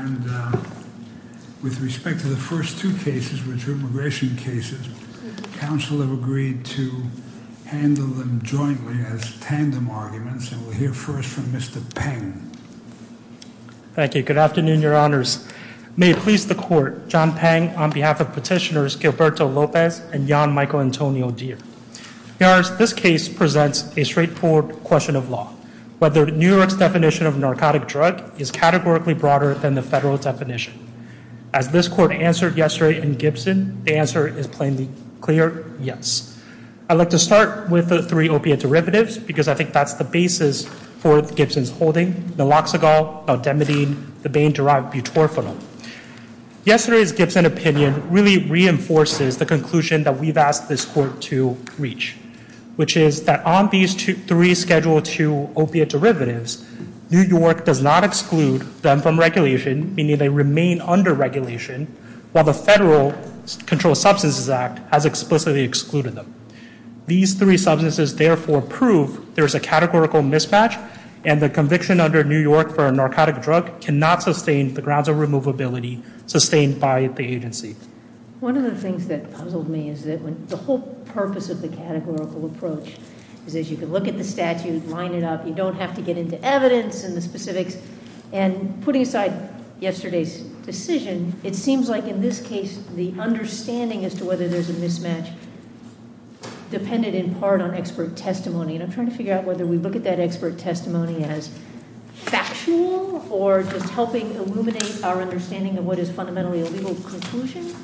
And with respect to the first two cases, which are immigration cases, council have agreed to handle them jointly as tandem arguments, and we'll hear first from Mr. Peng. Thank you, good afternoon, your honors. May it please the court, John Peng on behalf of petitioners Gilberto Lopez and Jan Michael Antonio Deere. Your honors, this case presents a straightforward question of law. Whether New York's definition of narcotic drug is categorically broader than the federal definition. As this court answered yesterday in Gibson, the answer is plainly clear, yes. I'd like to start with the three opiate derivatives because I think that's the basis for Gibson's holding, naloxagol, naldemidine, the Bain-derived butorphenol. Yesterday's Gibson opinion really reinforces the conclusion that we've asked this court to reach, which is that on these three schedule two opiate derivatives New York does not exclude them from regulation, meaning they remain under regulation, while the Federal Controlled Substances Act has explicitly excluded them. These three substances therefore prove there's a categorical mismatch, and the conviction under New York for a narcotic drug cannot sustain the grounds of removability sustained by the agency. One of the things that puzzled me is that the whole purpose of the categorical approach is that you can look at the statute, line it up, you don't have to get into evidence and the specifics, and putting aside yesterday's decision, it seems like in this case, the understanding as to whether there's a mismatch depended in part on expert testimony, and I'm trying to figure out whether we look at that expert testimony as factual or just helping illuminate our understanding of what is fundamentally a legal conclusion?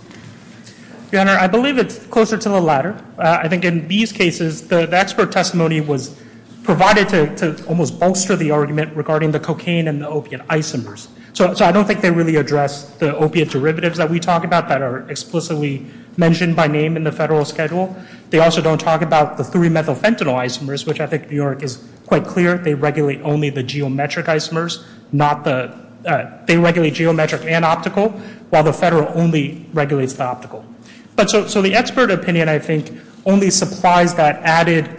Your Honor, I believe it's closer to the latter. I think in these cases, the expert testimony was provided to almost bolster the argument regarding the cocaine and the opiate isomers. So I don't think they really address the opiate derivatives that we talk about that are explicitly mentioned by name in the federal schedule. They also don't talk about the three methyl fentanyl isomers, which I think New York is quite clear, they regulate only the geometric isomers, not the, they regulate geometric and optical, while the federal only regulates the optical. But so the expert opinion, I think, only supplies that added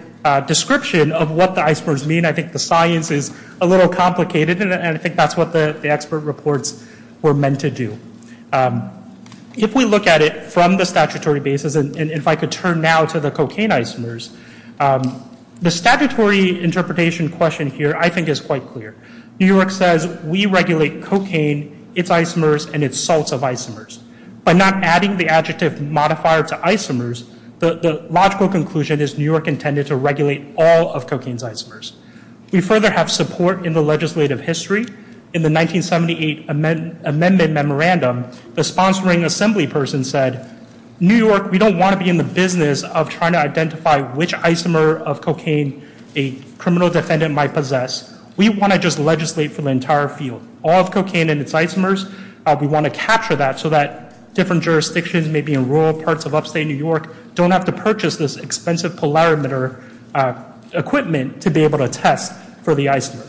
description of what the isomers mean. I think the science is a little complicated, and I think that's what the expert reports were meant to do. If we look at it from the statutory basis, and if I could turn now to the cocaine isomers, the statutory interpretation question here, I think, is quite clear. New York says we regulate cocaine, its isomers, and its salts of isomers. By not adding the adjective modifier to isomers, the logical conclusion is New York intended to regulate all of cocaine's isomers. We further have support in the legislative history. In the 1978 amendment memorandum, the sponsoring assembly person said, New York, we don't wanna be in the business of trying to identify which isomer of cocaine a criminal defendant might possess. We wanna just legislate for the entire field. All of cocaine and its isomers, we wanna capture that so that different jurisdictions, maybe in rural parts of upstate New York, don't have to purchase this expensive polarimeter equipment to be able to test for the isomer.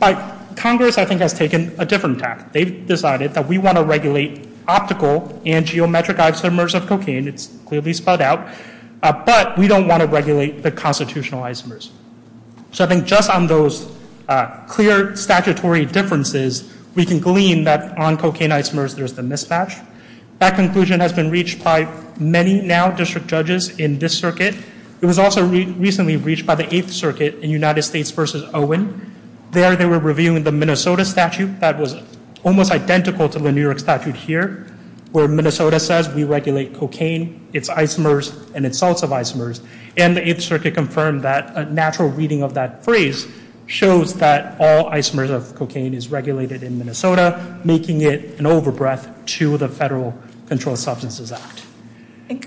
But Congress, I think, has taken a different tack. They've decided that we wanna regulate optical and geometric isomers of cocaine. It's clearly spelled out. But we don't wanna regulate the constitutional isomers. So I think just on those clear statutory differences, we can glean that on cocaine isomers, there's the mismatch. That conclusion has been reached by many now district judges in this circuit. It was also recently reached by the Eighth Circuit in United States versus Owen. There they were reviewing the Minnesota statute that was almost identical to the New York statute here, where Minnesota says we regulate cocaine, its isomers, and its salts of isomers. And the Eighth Circuit confirmed shows that all isomers of cocaine is regulated in Minnesota, making it an over-breath to the Federal Controlled Substances Act.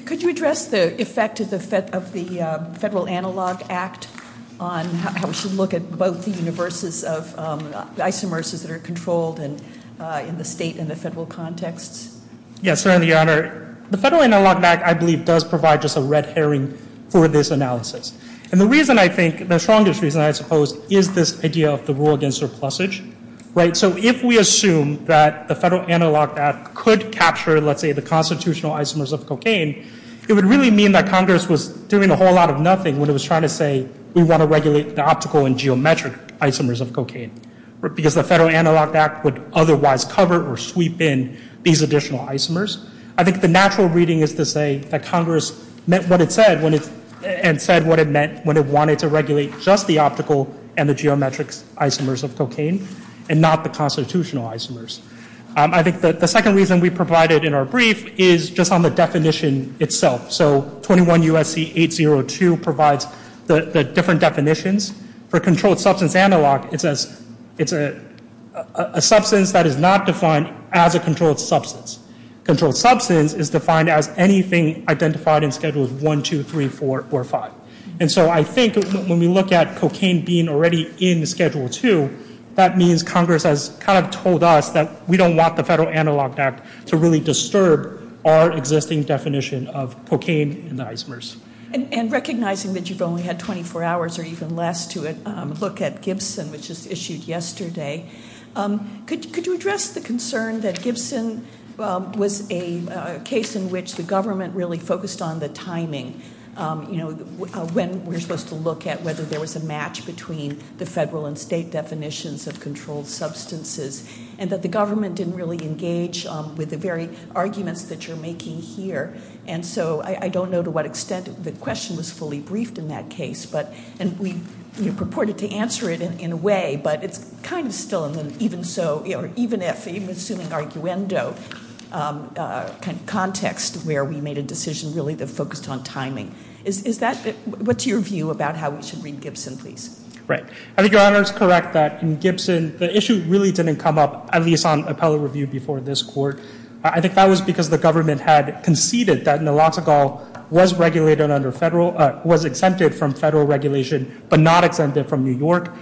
Could you address the effect of the Federal Analog Act on how we should look at both the universes of isomers that are controlled in the state and the federal contexts? Yes, certainly, Your Honor. The Federal Analog Act, I believe, does provide just a red herring for this analysis. And the reason, I think, the strongest reason, I suppose, is this idea of the rule against surplusage. So if we assume that the Federal Analog Act could capture, let's say, the constitutional isomers of cocaine, it would really mean that Congress was doing a whole lot of nothing when it was trying to say we want to regulate the optical and geometric isomers of cocaine, because the Federal Analog Act would otherwise cover or sweep in these additional isomers. I think the natural reading is to say that Congress meant what it said and said what it meant when it wanted to regulate just the optical and the geometric isomers of cocaine and not the constitutional isomers. I think that the second reason we provided in our brief is just on the definition itself. So 21 U.S.C. 802 provides the different definitions. For controlled substance analog, it says it's a substance that is not defined as a controlled substance. Controlled substance is defined as anything identified in Schedules 1, 2, 3, 4, or 5. And so I think when we look at cocaine being already in Schedule 2, that means Congress has kind of told us that we don't want the Federal Analog Act to really disturb our existing definition of cocaine and the isomers. And recognizing that you've only had 24 hours or even less to look at Gibson, which was issued yesterday, could you address the concern that Gibson was a case in which the government really focused on the timing, when we're supposed to look at whether there was a match between the federal and state definitions of controlled substances and that the government didn't really engage with the very arguments that you're making here. And so I don't know to what extent the question was fully briefed in that case, and we purported to answer it in a way, but it's kind of still in an even so, even assuming arguendo kind of context where we made a decision really that focused on timing. Is that, what's your view about how we should read Gibson, please? Right. I think Your Honor is correct that in Gibson, the issue really didn't come up, at least on appellate review before this court. I think that was because the government had conceded that naloxonegal was regulated under federal, was exempted from federal regulation, but not exempted from New York,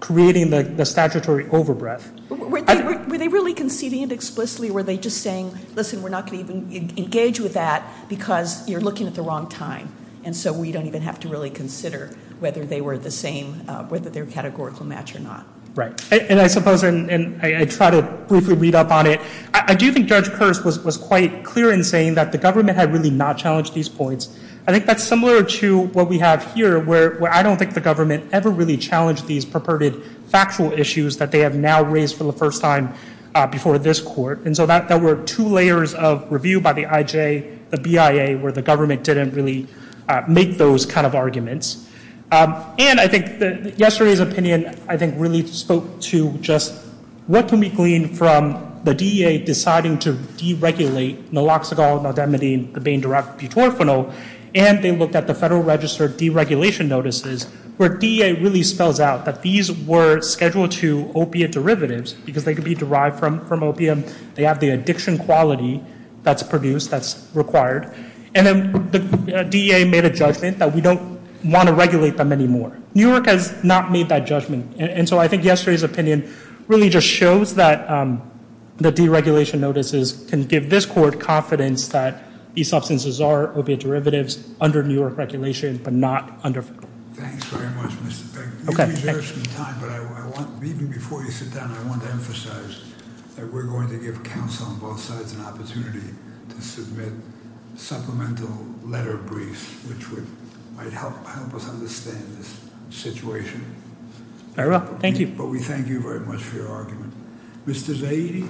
creating the statutory overbreath. Were they really conceding it explicitly, or were they just saying, listen, we're not gonna even engage with that because you're looking at the wrong time. And so we don't even have to really consider whether they were the same, whether they're categorical match or not. Right. And I suppose, and I try to briefly read up on it. I do think Judge Kearse was quite clear in saying that the government had really not challenged these points. I think that's similar to what we have here where I don't think the government ever really challenged these purported factual issues that they have now raised for the first time before this court. And so that were two layers of review by the IJ, the BIA, where the government didn't really make those kind of arguments. And I think that yesterday's opinion, I think really spoke to just what can we glean from the DEA deciding to deregulate naloxonegal, naldehyde, and the bain-derived butorphanol, and they looked at the federal registered deregulation notices where DEA really spells out that these were scheduled to opiate derivatives because they could be derived from opium and they have the addiction quality that's produced, that's required. And then the DEA made a judgment that we don't want to regulate them anymore. New York has not made that judgment. And so I think yesterday's opinion really just shows that the deregulation notices can give this court confidence that these substances are opiate derivatives under New York regulation, but not under federal. Thanks very much, Mr. Peck. You've been here some time, but even before you sit down, I want to emphasize that we're going to give counsel on both sides an opportunity to submit supplemental letter briefs, which might help us understand this situation. All right, well, thank you. But we thank you very much for your argument. Mr. Zaidi.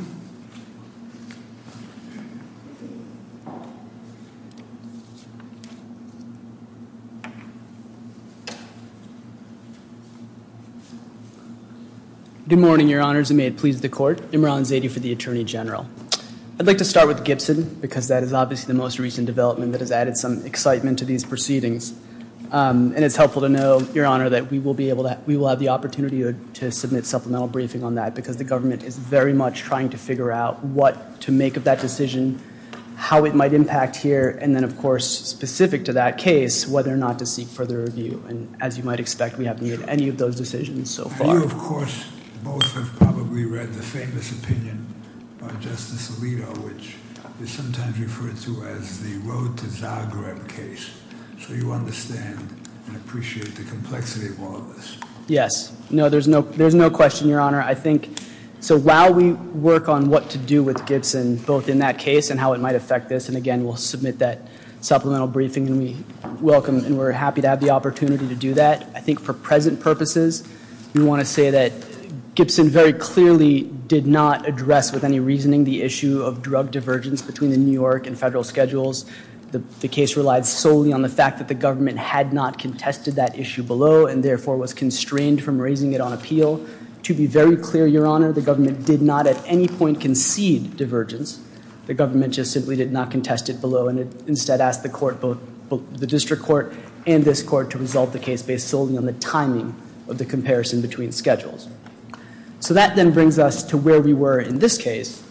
Good morning, Your Honors, and may it please the court. Imran Zaidi for the Attorney General. I'd like to start with Gibson because that is obviously the most recent development that has added some excitement to these proceedings. And it's helpful to know, Your Honor, that we will have the opportunity I'd like to start with Mr. Zaidi for the Attorney General. I'd like to start with Mr. Zaidi to figure out what to make of that decision, how it might impact here, and then, of course, specific to that case, whether or not to seek further review. And as you might expect, we haven't made any of those decisions so far. You, of course, both have probably read the famous opinion by Justice Alito, which is sometimes referred to as the road to Zagreb case. So you understand and appreciate the complexity of all of this. Yes, no, there's no question, Your Honor. So while we work on what to do with Gibson, both in that case and how it might affect this, and again, we'll submit that supplemental briefing and we welcome and we're happy to have the opportunity to do that. I think for present purposes, we want to say that Gibson very clearly did not address with any reasoning the issue of drug divergence between the New York and federal schedules. The case relied solely on the fact that the government had not contested that issue below and therefore was constrained from raising it on appeal to be very clear, Your Honor, the government did not at any point concede divergence. The government just simply did not contest it below and instead asked the court, both the district court and this court to resolve the case based solely on the timing of the comparison between schedules. So that then brings us to where we were in this case.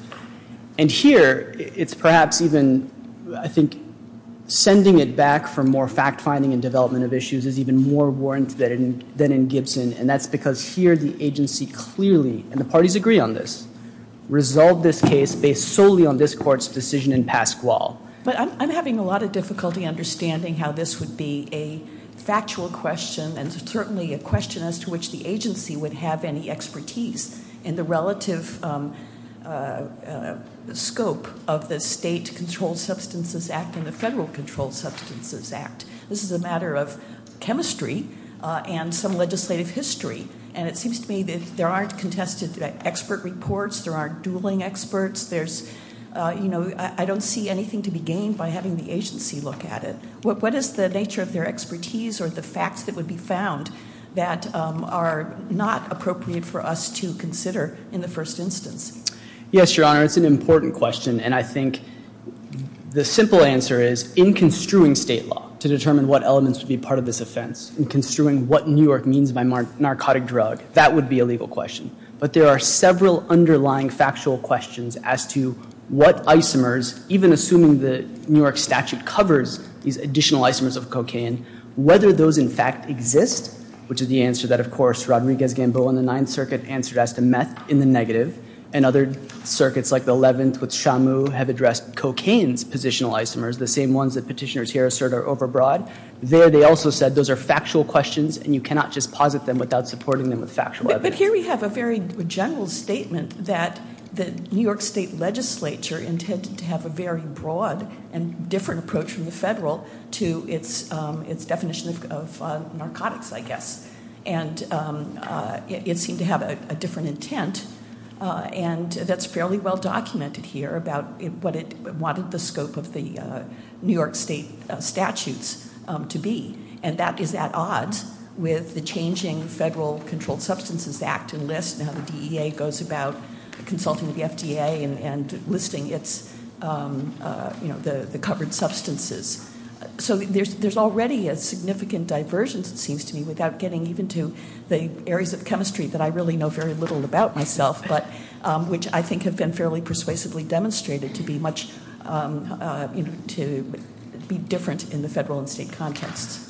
And here, it's perhaps even, I think, sending it back for more fact-finding and development of issues is even more warranted than in Gibson. And that's because here, the agency clearly, and the parties agree on this, resolved this case based solely on this court's decision in Pasquale. But I'm having a lot of difficulty understanding how this would be a factual question and certainly a question as to which the agency would have any expertise in the relative scope of the State Controlled Substances Act and the Federal Controlled Substances Act. This is a matter of chemistry and some legislative history. And it seems to me that there aren't contested expert reports, there aren't dueling experts, there's, you know, I don't see anything to be gained by having the agency look at it. What is the nature of their expertise or the facts that would be found that are not appropriate for us to consider in the first instance? Yes, Your Honor, it's an important question. And I think the simple answer is, in construing state law, to determine what elements would be part of this offense, in construing what New York means by narcotic drug, that would be a legal question. But there are several underlying factual questions as to what isomers, even assuming the New York statute covers these additional isomers of cocaine, whether those in fact exist, which is the answer that, of course, Rodriguez-Gamboa in the Ninth Circuit answered as to meth in the negative. And other circuits like the 11th with Shamu have addressed cocaine's positional isomers, the same ones that petitioners here assert are overbroad. There, they also said those are factual questions and you cannot just posit them without supporting them with factual evidence. But here we have a very general statement that the New York State Legislature intended to have a very broad and different approach from the federal to its definition of narcotics, I guess. And it seemed to have a different intent. And that's fairly well documented here about what it wanted the scope of the New York State statutes to be. And that is at odds with the changing Federal Controlled Substances Act enlist, and how the DEA goes about consulting with the FDA and enlisting the covered substances. So there's already a significant diversion, it seems to me, without getting even to the areas of chemistry that I really know very little about myself, which I think have been fairly persuasively demonstrated to be different in the federal and state context.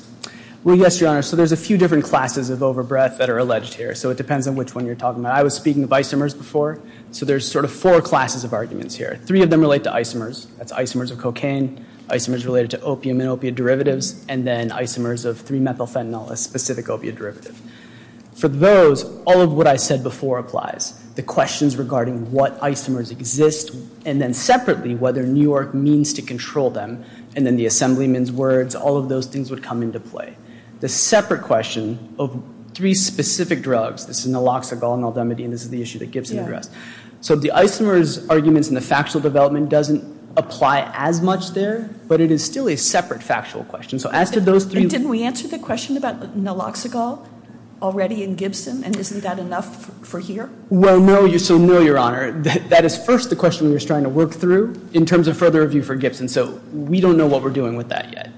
Well, yes, Your Honor. So there's a few different classes of overbreath that are alleged here. So it depends on which one you're talking about. I was speaking of isomers before. So there's sort of four classes of arguments here. Three of them relate to isomers. That's isomers of cocaine, isomers related to opium and opiate derivatives, and then isomers of 3-methylphenol, a specific opiate derivative. For those, all of what I said before applies. The questions regarding what isomers exist, and then separately, whether New York means to control them, and then the assemblyman's words, all of those things would come into play. The separate question of three specific drugs, this is naloxagol, naldemidine, this is the issue that Gibson addressed. So the isomers arguments and the factual development doesn't apply as much there, but it is still a separate factual question. So as to those three- And didn't we answer the question about naloxagol already in Gibson, and isn't that enough for here? So no, Your Honor. That is first the question we were trying to work through in terms of further review for Gibson. So we don't know what we're doing with that yet.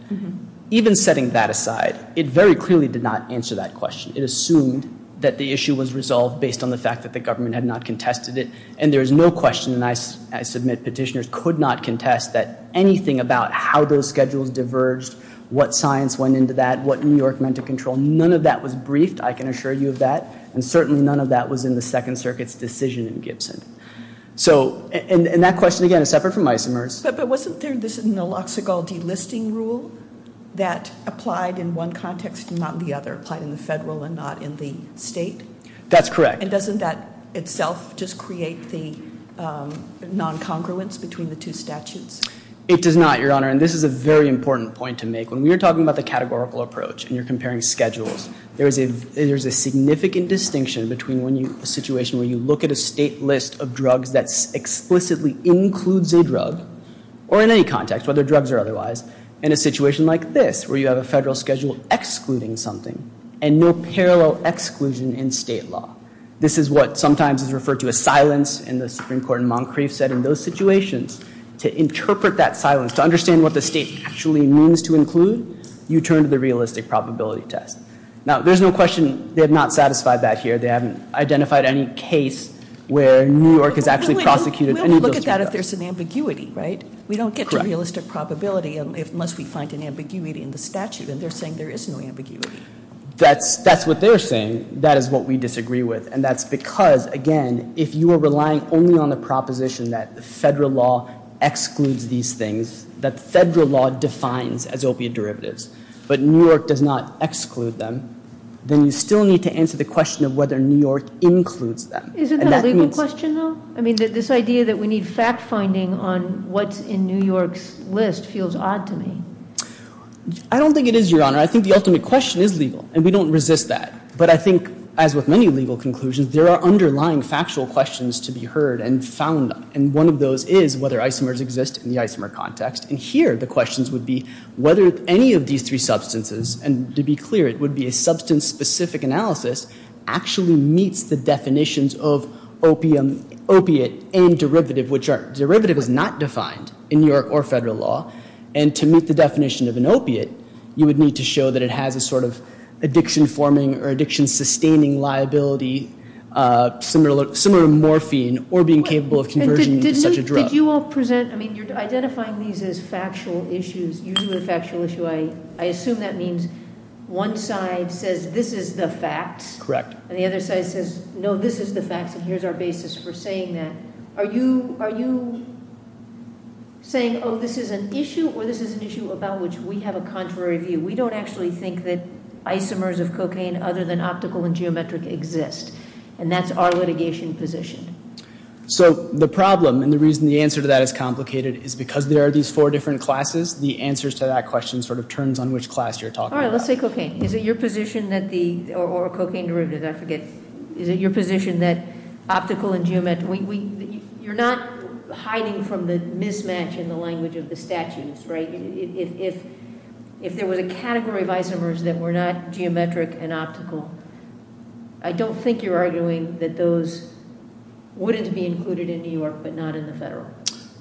Even setting that aside, it very clearly did not answer that question. It assumed that the issue was resolved based on the fact that the government had not contested it, and there is no question that I submit petitioners could not contest that anything about how those schedules diverged, what science went into that, what New York meant to control, none of that was briefed, I can assure you of that, and certainly none of that was in the Second Circuit's decision in Gibson. So, and that question, again, is separate from isomers. But wasn't there this naloxagol delisting rule that applied in one context and not in the other, applied in the federal and not in the state? That's correct. And doesn't that itself just create the non-congruence between the two statutes? It does not, Your Honor, and this is a very important point to make. When we were talking about the categorical approach and you're comparing schedules, there's a significant distinction between a situation where you look at a state list of drugs that explicitly includes a drug, or in any context, whether drugs or otherwise, and a situation like this, where you have a federal schedule excluding something and no parallel exclusion in state law. This is what sometimes is referred to as silence in the Supreme Court, and Moncrief said in those situations, to interpret that silence, to understand what the state actually means to include, you turn to the realistic probability test. Now, there's no question they have not satisfied that here. They haven't identified any case where New York has actually prosecuted any of those drugs. We only look at that if there's an ambiguity, right? We don't get to realistic probability unless we find an ambiguity in the statute, and they're saying there is no ambiguity. That's what they're saying. That is what we disagree with, and that's because, again, if you are relying only on the proposition that the federal law excludes these things, that federal law defines as opiate derivatives, but New York does not exclude them, then you still need to answer the question of whether New York includes them. And that means- Isn't that a legal question, though? I mean, this idea that we need fact-finding on what's in New York's list feels odd to me. I don't think it is, Your Honor. I think the ultimate question is legal, and we don't resist that, but I think, as with many legal conclusions, there are underlying factual questions to be heard and found, and one of those is whether isomers exist in the isomer context, and here the questions would be whether any of these three substances, and to be clear, it would be a substance-specific analysis, actually meets the definitions of opiate and derivative, which are, derivative is not defined in New York or federal law, and to meet the definition of an opiate, you would need to show that it has a sort of addiction-forming or addiction-sustaining liability, similar to morphine, or being capable of converging into such a drug. Did you all present, you're identifying these as factual issues, usually a factual issue. I assume that means one side says this is the facts, and the other side says, no, this is the facts, and here's our basis for saying that. Are you saying, oh, this is an issue, or this is an issue about which we have a contrary view? We don't actually think that isomers of cocaine other than optical and geometric exist, and that's our litigation position. So the problem, and the reason the answer to that is complicated is because there are these four different classes, the answers to that question sort of turns on which class you're talking about. All right, let's say cocaine. Is it your position that the, or cocaine derivative, I forget. Is it your position that optical and geometric, you're not hiding from the mismatch in the language of the statutes, right? If there was a category of isomers that were not geometric and optical, I don't think you're arguing that those wouldn't be included in New York, but not in the federal.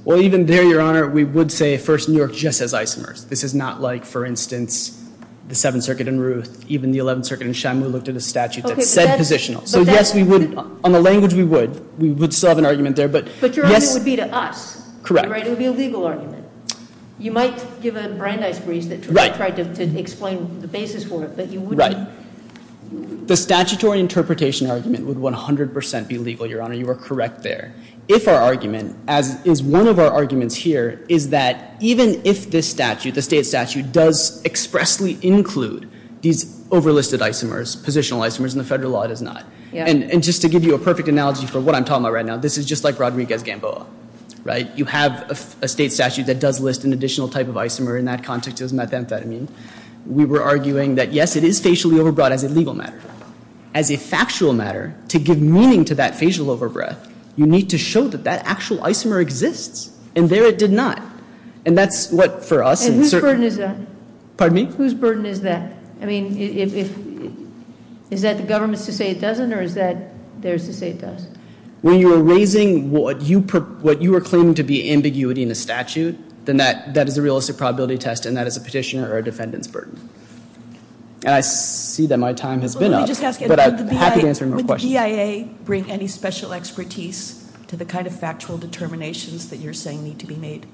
Well, even there, Your Honor, we would say, first, New York just has isomers. This is not like, for instance, the Seventh Circuit in Ruth, even the Eleventh Circuit in Shamu looked at a statute that said positional. So yes, we would, on the language, we would. We would still have an argument there, but yes. But your argument would be to us. Correct. It would be a legal argument. You might give a Brandeis breeze that tried to explain the basis for it, but you wouldn't. Right. The statutory interpretation argument would 100% be legal, Your Honor. Your Honor, you are correct there. If our argument, as is one of our arguments here, is that even if this statute, the state statute, does expressly include these overlisted isomers, positional isomers, in the federal law, it does not. Yeah. And just to give you a perfect analogy for what I'm talking about right now, this is just like Rodriguez-Gamboa, right? You have a state statute that does list an additional type of isomer in that context as methamphetamine. We were arguing that, yes, it is facially overbrought as a legal matter. As a factual matter, to give meaning to that facial overbreath, you need to show that that actual isomer exists. And there it did not. And that's what, for us, in certain- And whose burden is that? Pardon me? Whose burden is that? I mean, is that the government's to say it doesn't, or is that theirs to say it does? When you are raising what you are claiming to be ambiguity in the statute, then that is a realistic probability test, and that is a petitioner or a defendant's burden. And I see that my time has been up, but I'm happy to answer more questions. Did the GIA bring any special expertise to the kind of factual determinations that you're saying need to be made?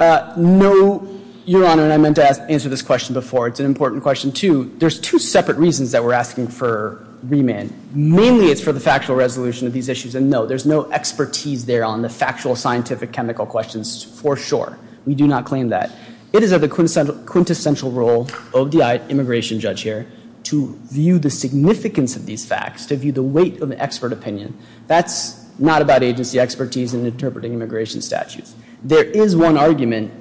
No, Your Honor, and I meant to answer this question before. It's an important question, too. There's two separate reasons that we're asking for remand. Mainly, it's for the factual resolution of these issues, and no, there's no expertise there on the factual scientific chemical questions, for sure. We do not claim that. It is of the quintessential role of the immigration judge here to view the significance of these facts, to view the weight of the expert opinion. That's not about agency expertise in interpreting immigration statutes. There is one argument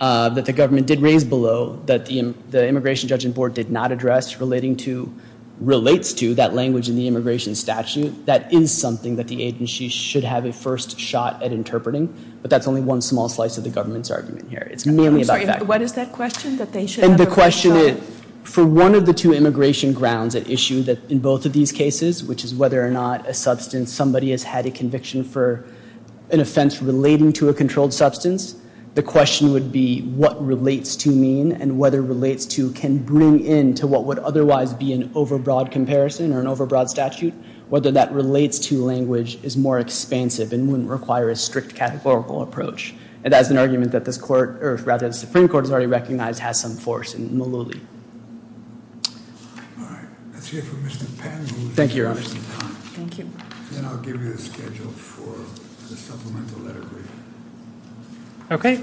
that the government did raise below that the Immigration Judging Board did not address relating to, relates to, that language in the immigration statute. That is something that the agency should have a first shot at interpreting, but that's only one small slice of the government's argument here. It's mainly about facts. I'm sorry, what is that question, that they should have a first shot? And the question is, for one of the two immigration grounds at issue that in both of these cases, which is whether or not a substance, somebody has had a conviction for an offense relating to a controlled substance, the question would be what relates to mean, and whether relates to can bring in to what would otherwise be an overbroad comparison or an overbroad statute, whether that relates to language is more expansive and wouldn't require a strict categorical approach. And that's an argument that this court, or rather the Supreme Court has already recognized has some force in Maluli. That's it for Mr. Pan. Thank you, Your Honor. Thank you. Then I'll give you the schedule for the supplemental letter briefing. Okay,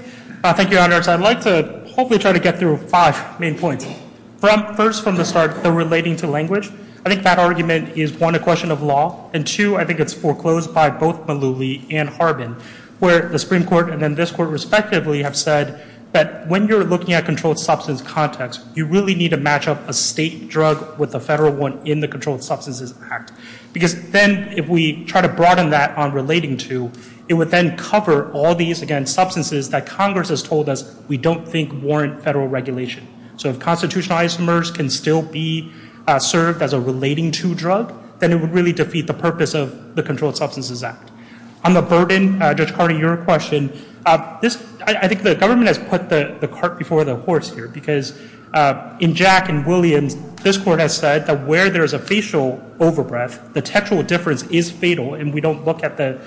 thank you, Your Honor. I'd like to hopefully try to get through five main points. First from the start, the relating to language. I think that argument is one, a question of law, and two, I think it's foreclosed by both Maluli and Harbin, where the Supreme Court and then this court respectively have said that when you're looking at controlled substance context, you really need to match up a state drug with a federal one in the Controlled Substances Act. Because then if we try to broaden that on relating to, it would then cover all these, again, substances that Congress has told us we don't think warrant federal regulation. So if constitutionalized mers can still be served as a relating to drug, then it would really defeat the purpose of the Controlled Substances Act. On the burden, Judge Carty, your question, I think the government has put the cart before the horse here, because in Jack and Williams, this court has said that where there's a facial overbreath, the textual difference is fatal, and we don't look at the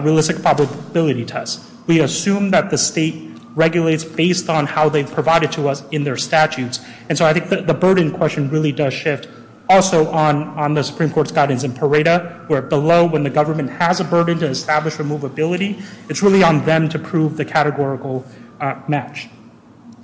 realistic probability test. We assume that the state regulates based on how they've provided to us in their statutes. And so I think the burden question really does shift also on the Supreme Court's guidance in Pareto, where below when the government has a burden to establish removability, it's really on them to prove the categorical match.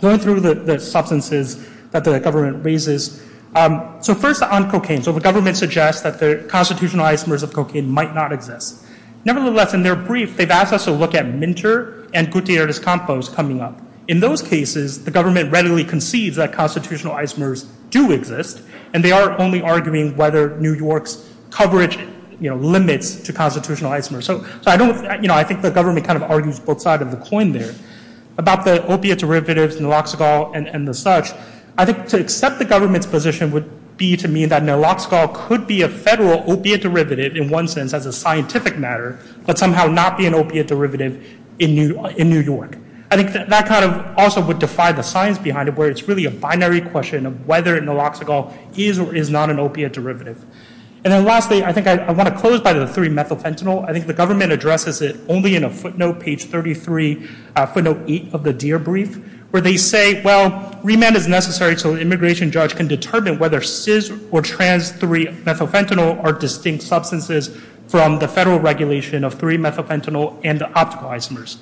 Going through the substances that the government raises, so first on cocaine. So the government suggests that the constitutionalized mers of cocaine might not exist. Nevertheless, in their brief, they've asked us to look at Minter and Gutierrez-Campos coming up. In those cases, the government readily concedes that constitutionalized mers do exist, and they are only arguing whether New York's coverage limits to constitutionalized mers. So I think the government kind of argues both sides of the coin there. About the opiate derivatives, Naloxicol and the such, I think to accept the government's position would be to mean that Naloxicol could be a federal opiate derivative in one sense as a scientific matter, but somehow not be an opiate derivative in New York. I think that kind of also would defy the science behind it, where it's really a binary question of whether Naloxicol is or is not an opiate derivative. And then lastly, I think I wanna close by the three-methyl fentanyl. I think the government addresses it only in a footnote, page 33, footnote eight of the Deere brief, where they say, well, remand is necessary so an immigration judge can determine whether cis or trans three-methyl fentanyl are distinct substances from the federal regulation of three-methyl fentanyl and the optical isomers.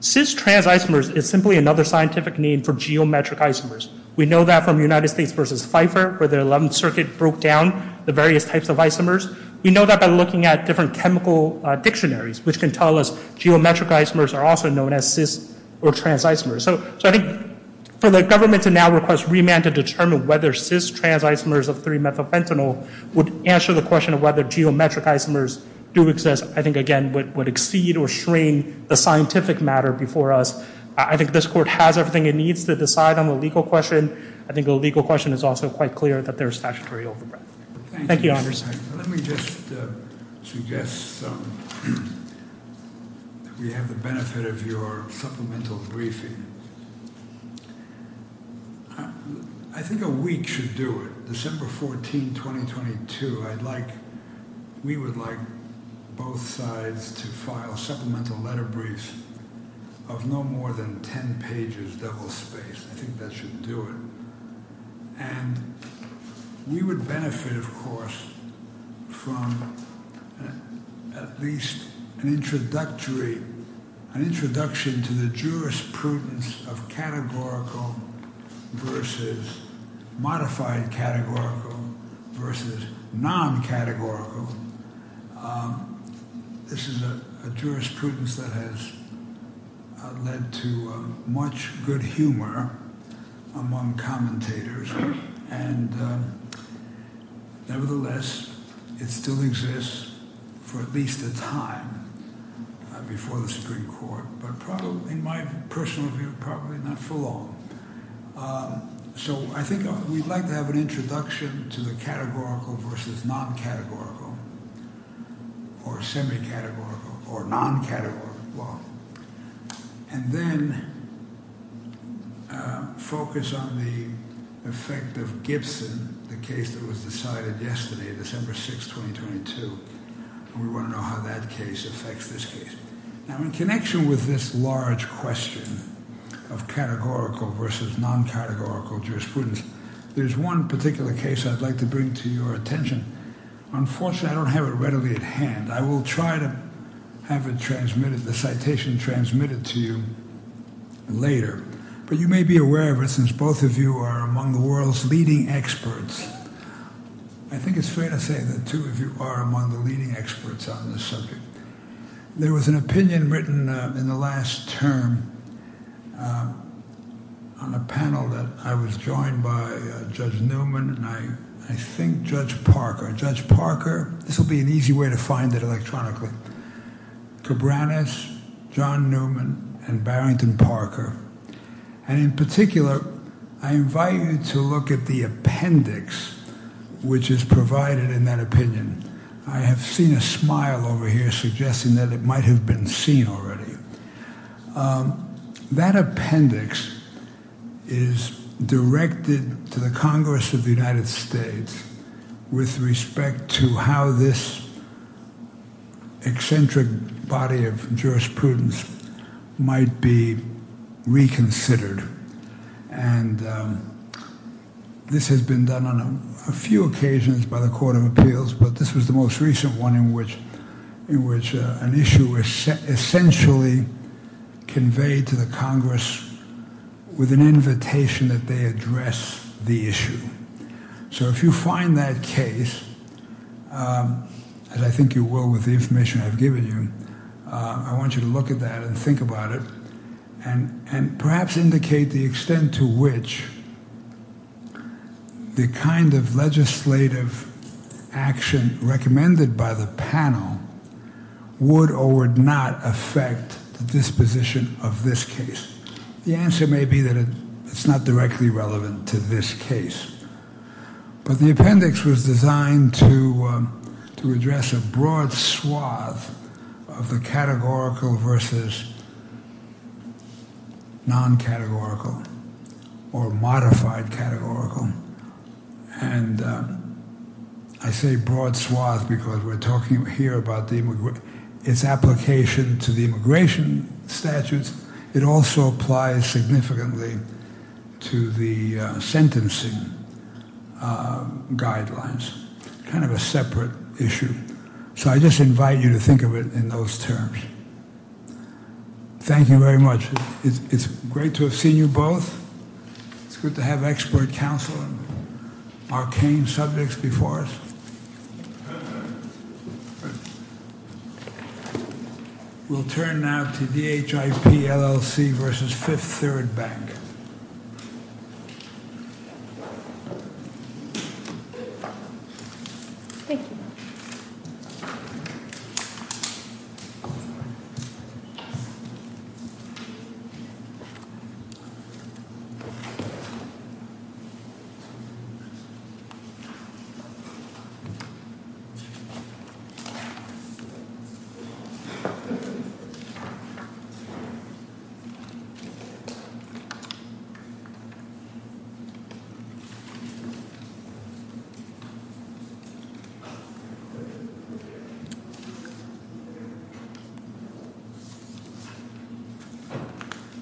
Cis-trans isomers is simply another scientific name for geometric isomers. We know that from United States versus Pfeiffer, where the 11th Circuit broke down the various types of isomers. We know that by looking at different chemical dictionaries, which can tell us geometric isomers are also known as cis or trans isomers. So I think for the government to now request remand to determine whether cis-trans isomers of three-methyl fentanyl would answer the question of whether geometric isomers do exist, I think, again, would exceed or strain the scientific matter before us. I think this court has everything it needs to decide on the legal question. I think the legal question is also quite clear that there's statutory overbreath. Thank you, Your Honors. Let me just suggest we have the benefit of your supplemental briefing. I think a week should do it. December 14, 2022, I'd like, we would like both sides to file supplemental letter briefs of no more than 10 pages, double-spaced. I think that should do it. And we would benefit, of course, from at least an introductory, an introduction to the jurisprudence of categorical versus modified categorical versus non-categorical. This is a jurisprudence that has led to much good humor among commentators. And nevertheless, it still exists for at least a time before the Supreme Court, but probably, in my personal view, probably not for long. So I think we'd like to have an introduction to the categorical versus non-categorical or semi-categorical or non-categorical. Well, and then focus on the effect of Gibson, the case that was decided yesterday, December 6, 2022. And we wanna know how that case affects this case. Now, in connection with this large question of categorical versus non-categorical jurisprudence, there's one particular case I'd like to bring to your attention. Unfortunately, I don't have it readily at hand. I will try to have it transmitted, the citation transmitted to you later. But you may be aware of it since both of you are among the world's leading experts. I think it's fair to say that two of you are among the leading experts on this subject. There was an opinion written in the last term on a panel that I was joined by Judge Newman and I think Judge Parker. Judge Parker, this will be an easy way to find it electronically. Cabranes, John Newman, and Barrington Parker. And in particular, I invite you to look at the appendix, which is provided in that opinion. I have seen a smile over here suggesting that it might have been seen already. That appendix is directed to the Congress of the United States with respect to how this eccentric body of jurisprudence might be reconsidered. And this has been done on a few occasions by the Court of Appeals, but this was the most recent one in which an issue was essentially conveyed to the Congress with an invitation that they address the issue. So if you find that case, as I think you will with the information I've given you, I want you to look at that and think about it and perhaps indicate the extent to which the kind of legislative action recommended by the panel would or would not affect the disposition of this case. The answer may be that it's not directly relevant to this case. But the appendix was designed to address a broad swath of the categorical versus non-categorical or modified categorical. And I say broad swath because we're talking here about its application to the immigration statutes. It also applies significantly to the sentencing guidelines. Kind of a separate issue. So I just invite you to think of it in those terms. Thank you very much. It's great to have seen you both. It's good to have expert counsel on arcane subjects before us. We'll turn now to DHIP LLC versus Fifth Third Bank. Thank you.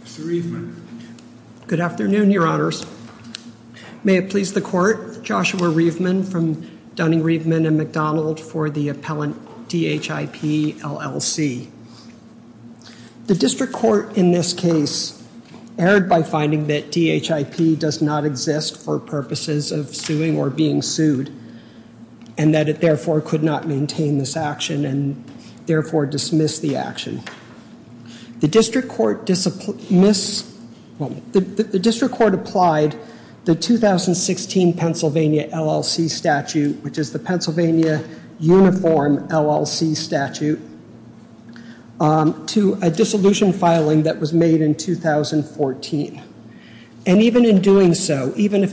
Mr. Riefman. Good afternoon, your honors. May it please the court, Joshua Riefman from Dunning Riefman and McDonald for the appellant DHIP LLC. The district court in this case erred by finding that DHIP does not exist for purposes of suing or being sued and that it therefore could not maintain this action and therefore dismiss the action. The district court applied the 2016 Pennsylvania LLC statute which is the Pennsylvania Uniform LLC statute to a dissolution filing that was made in 2014. And even in doing so, even if the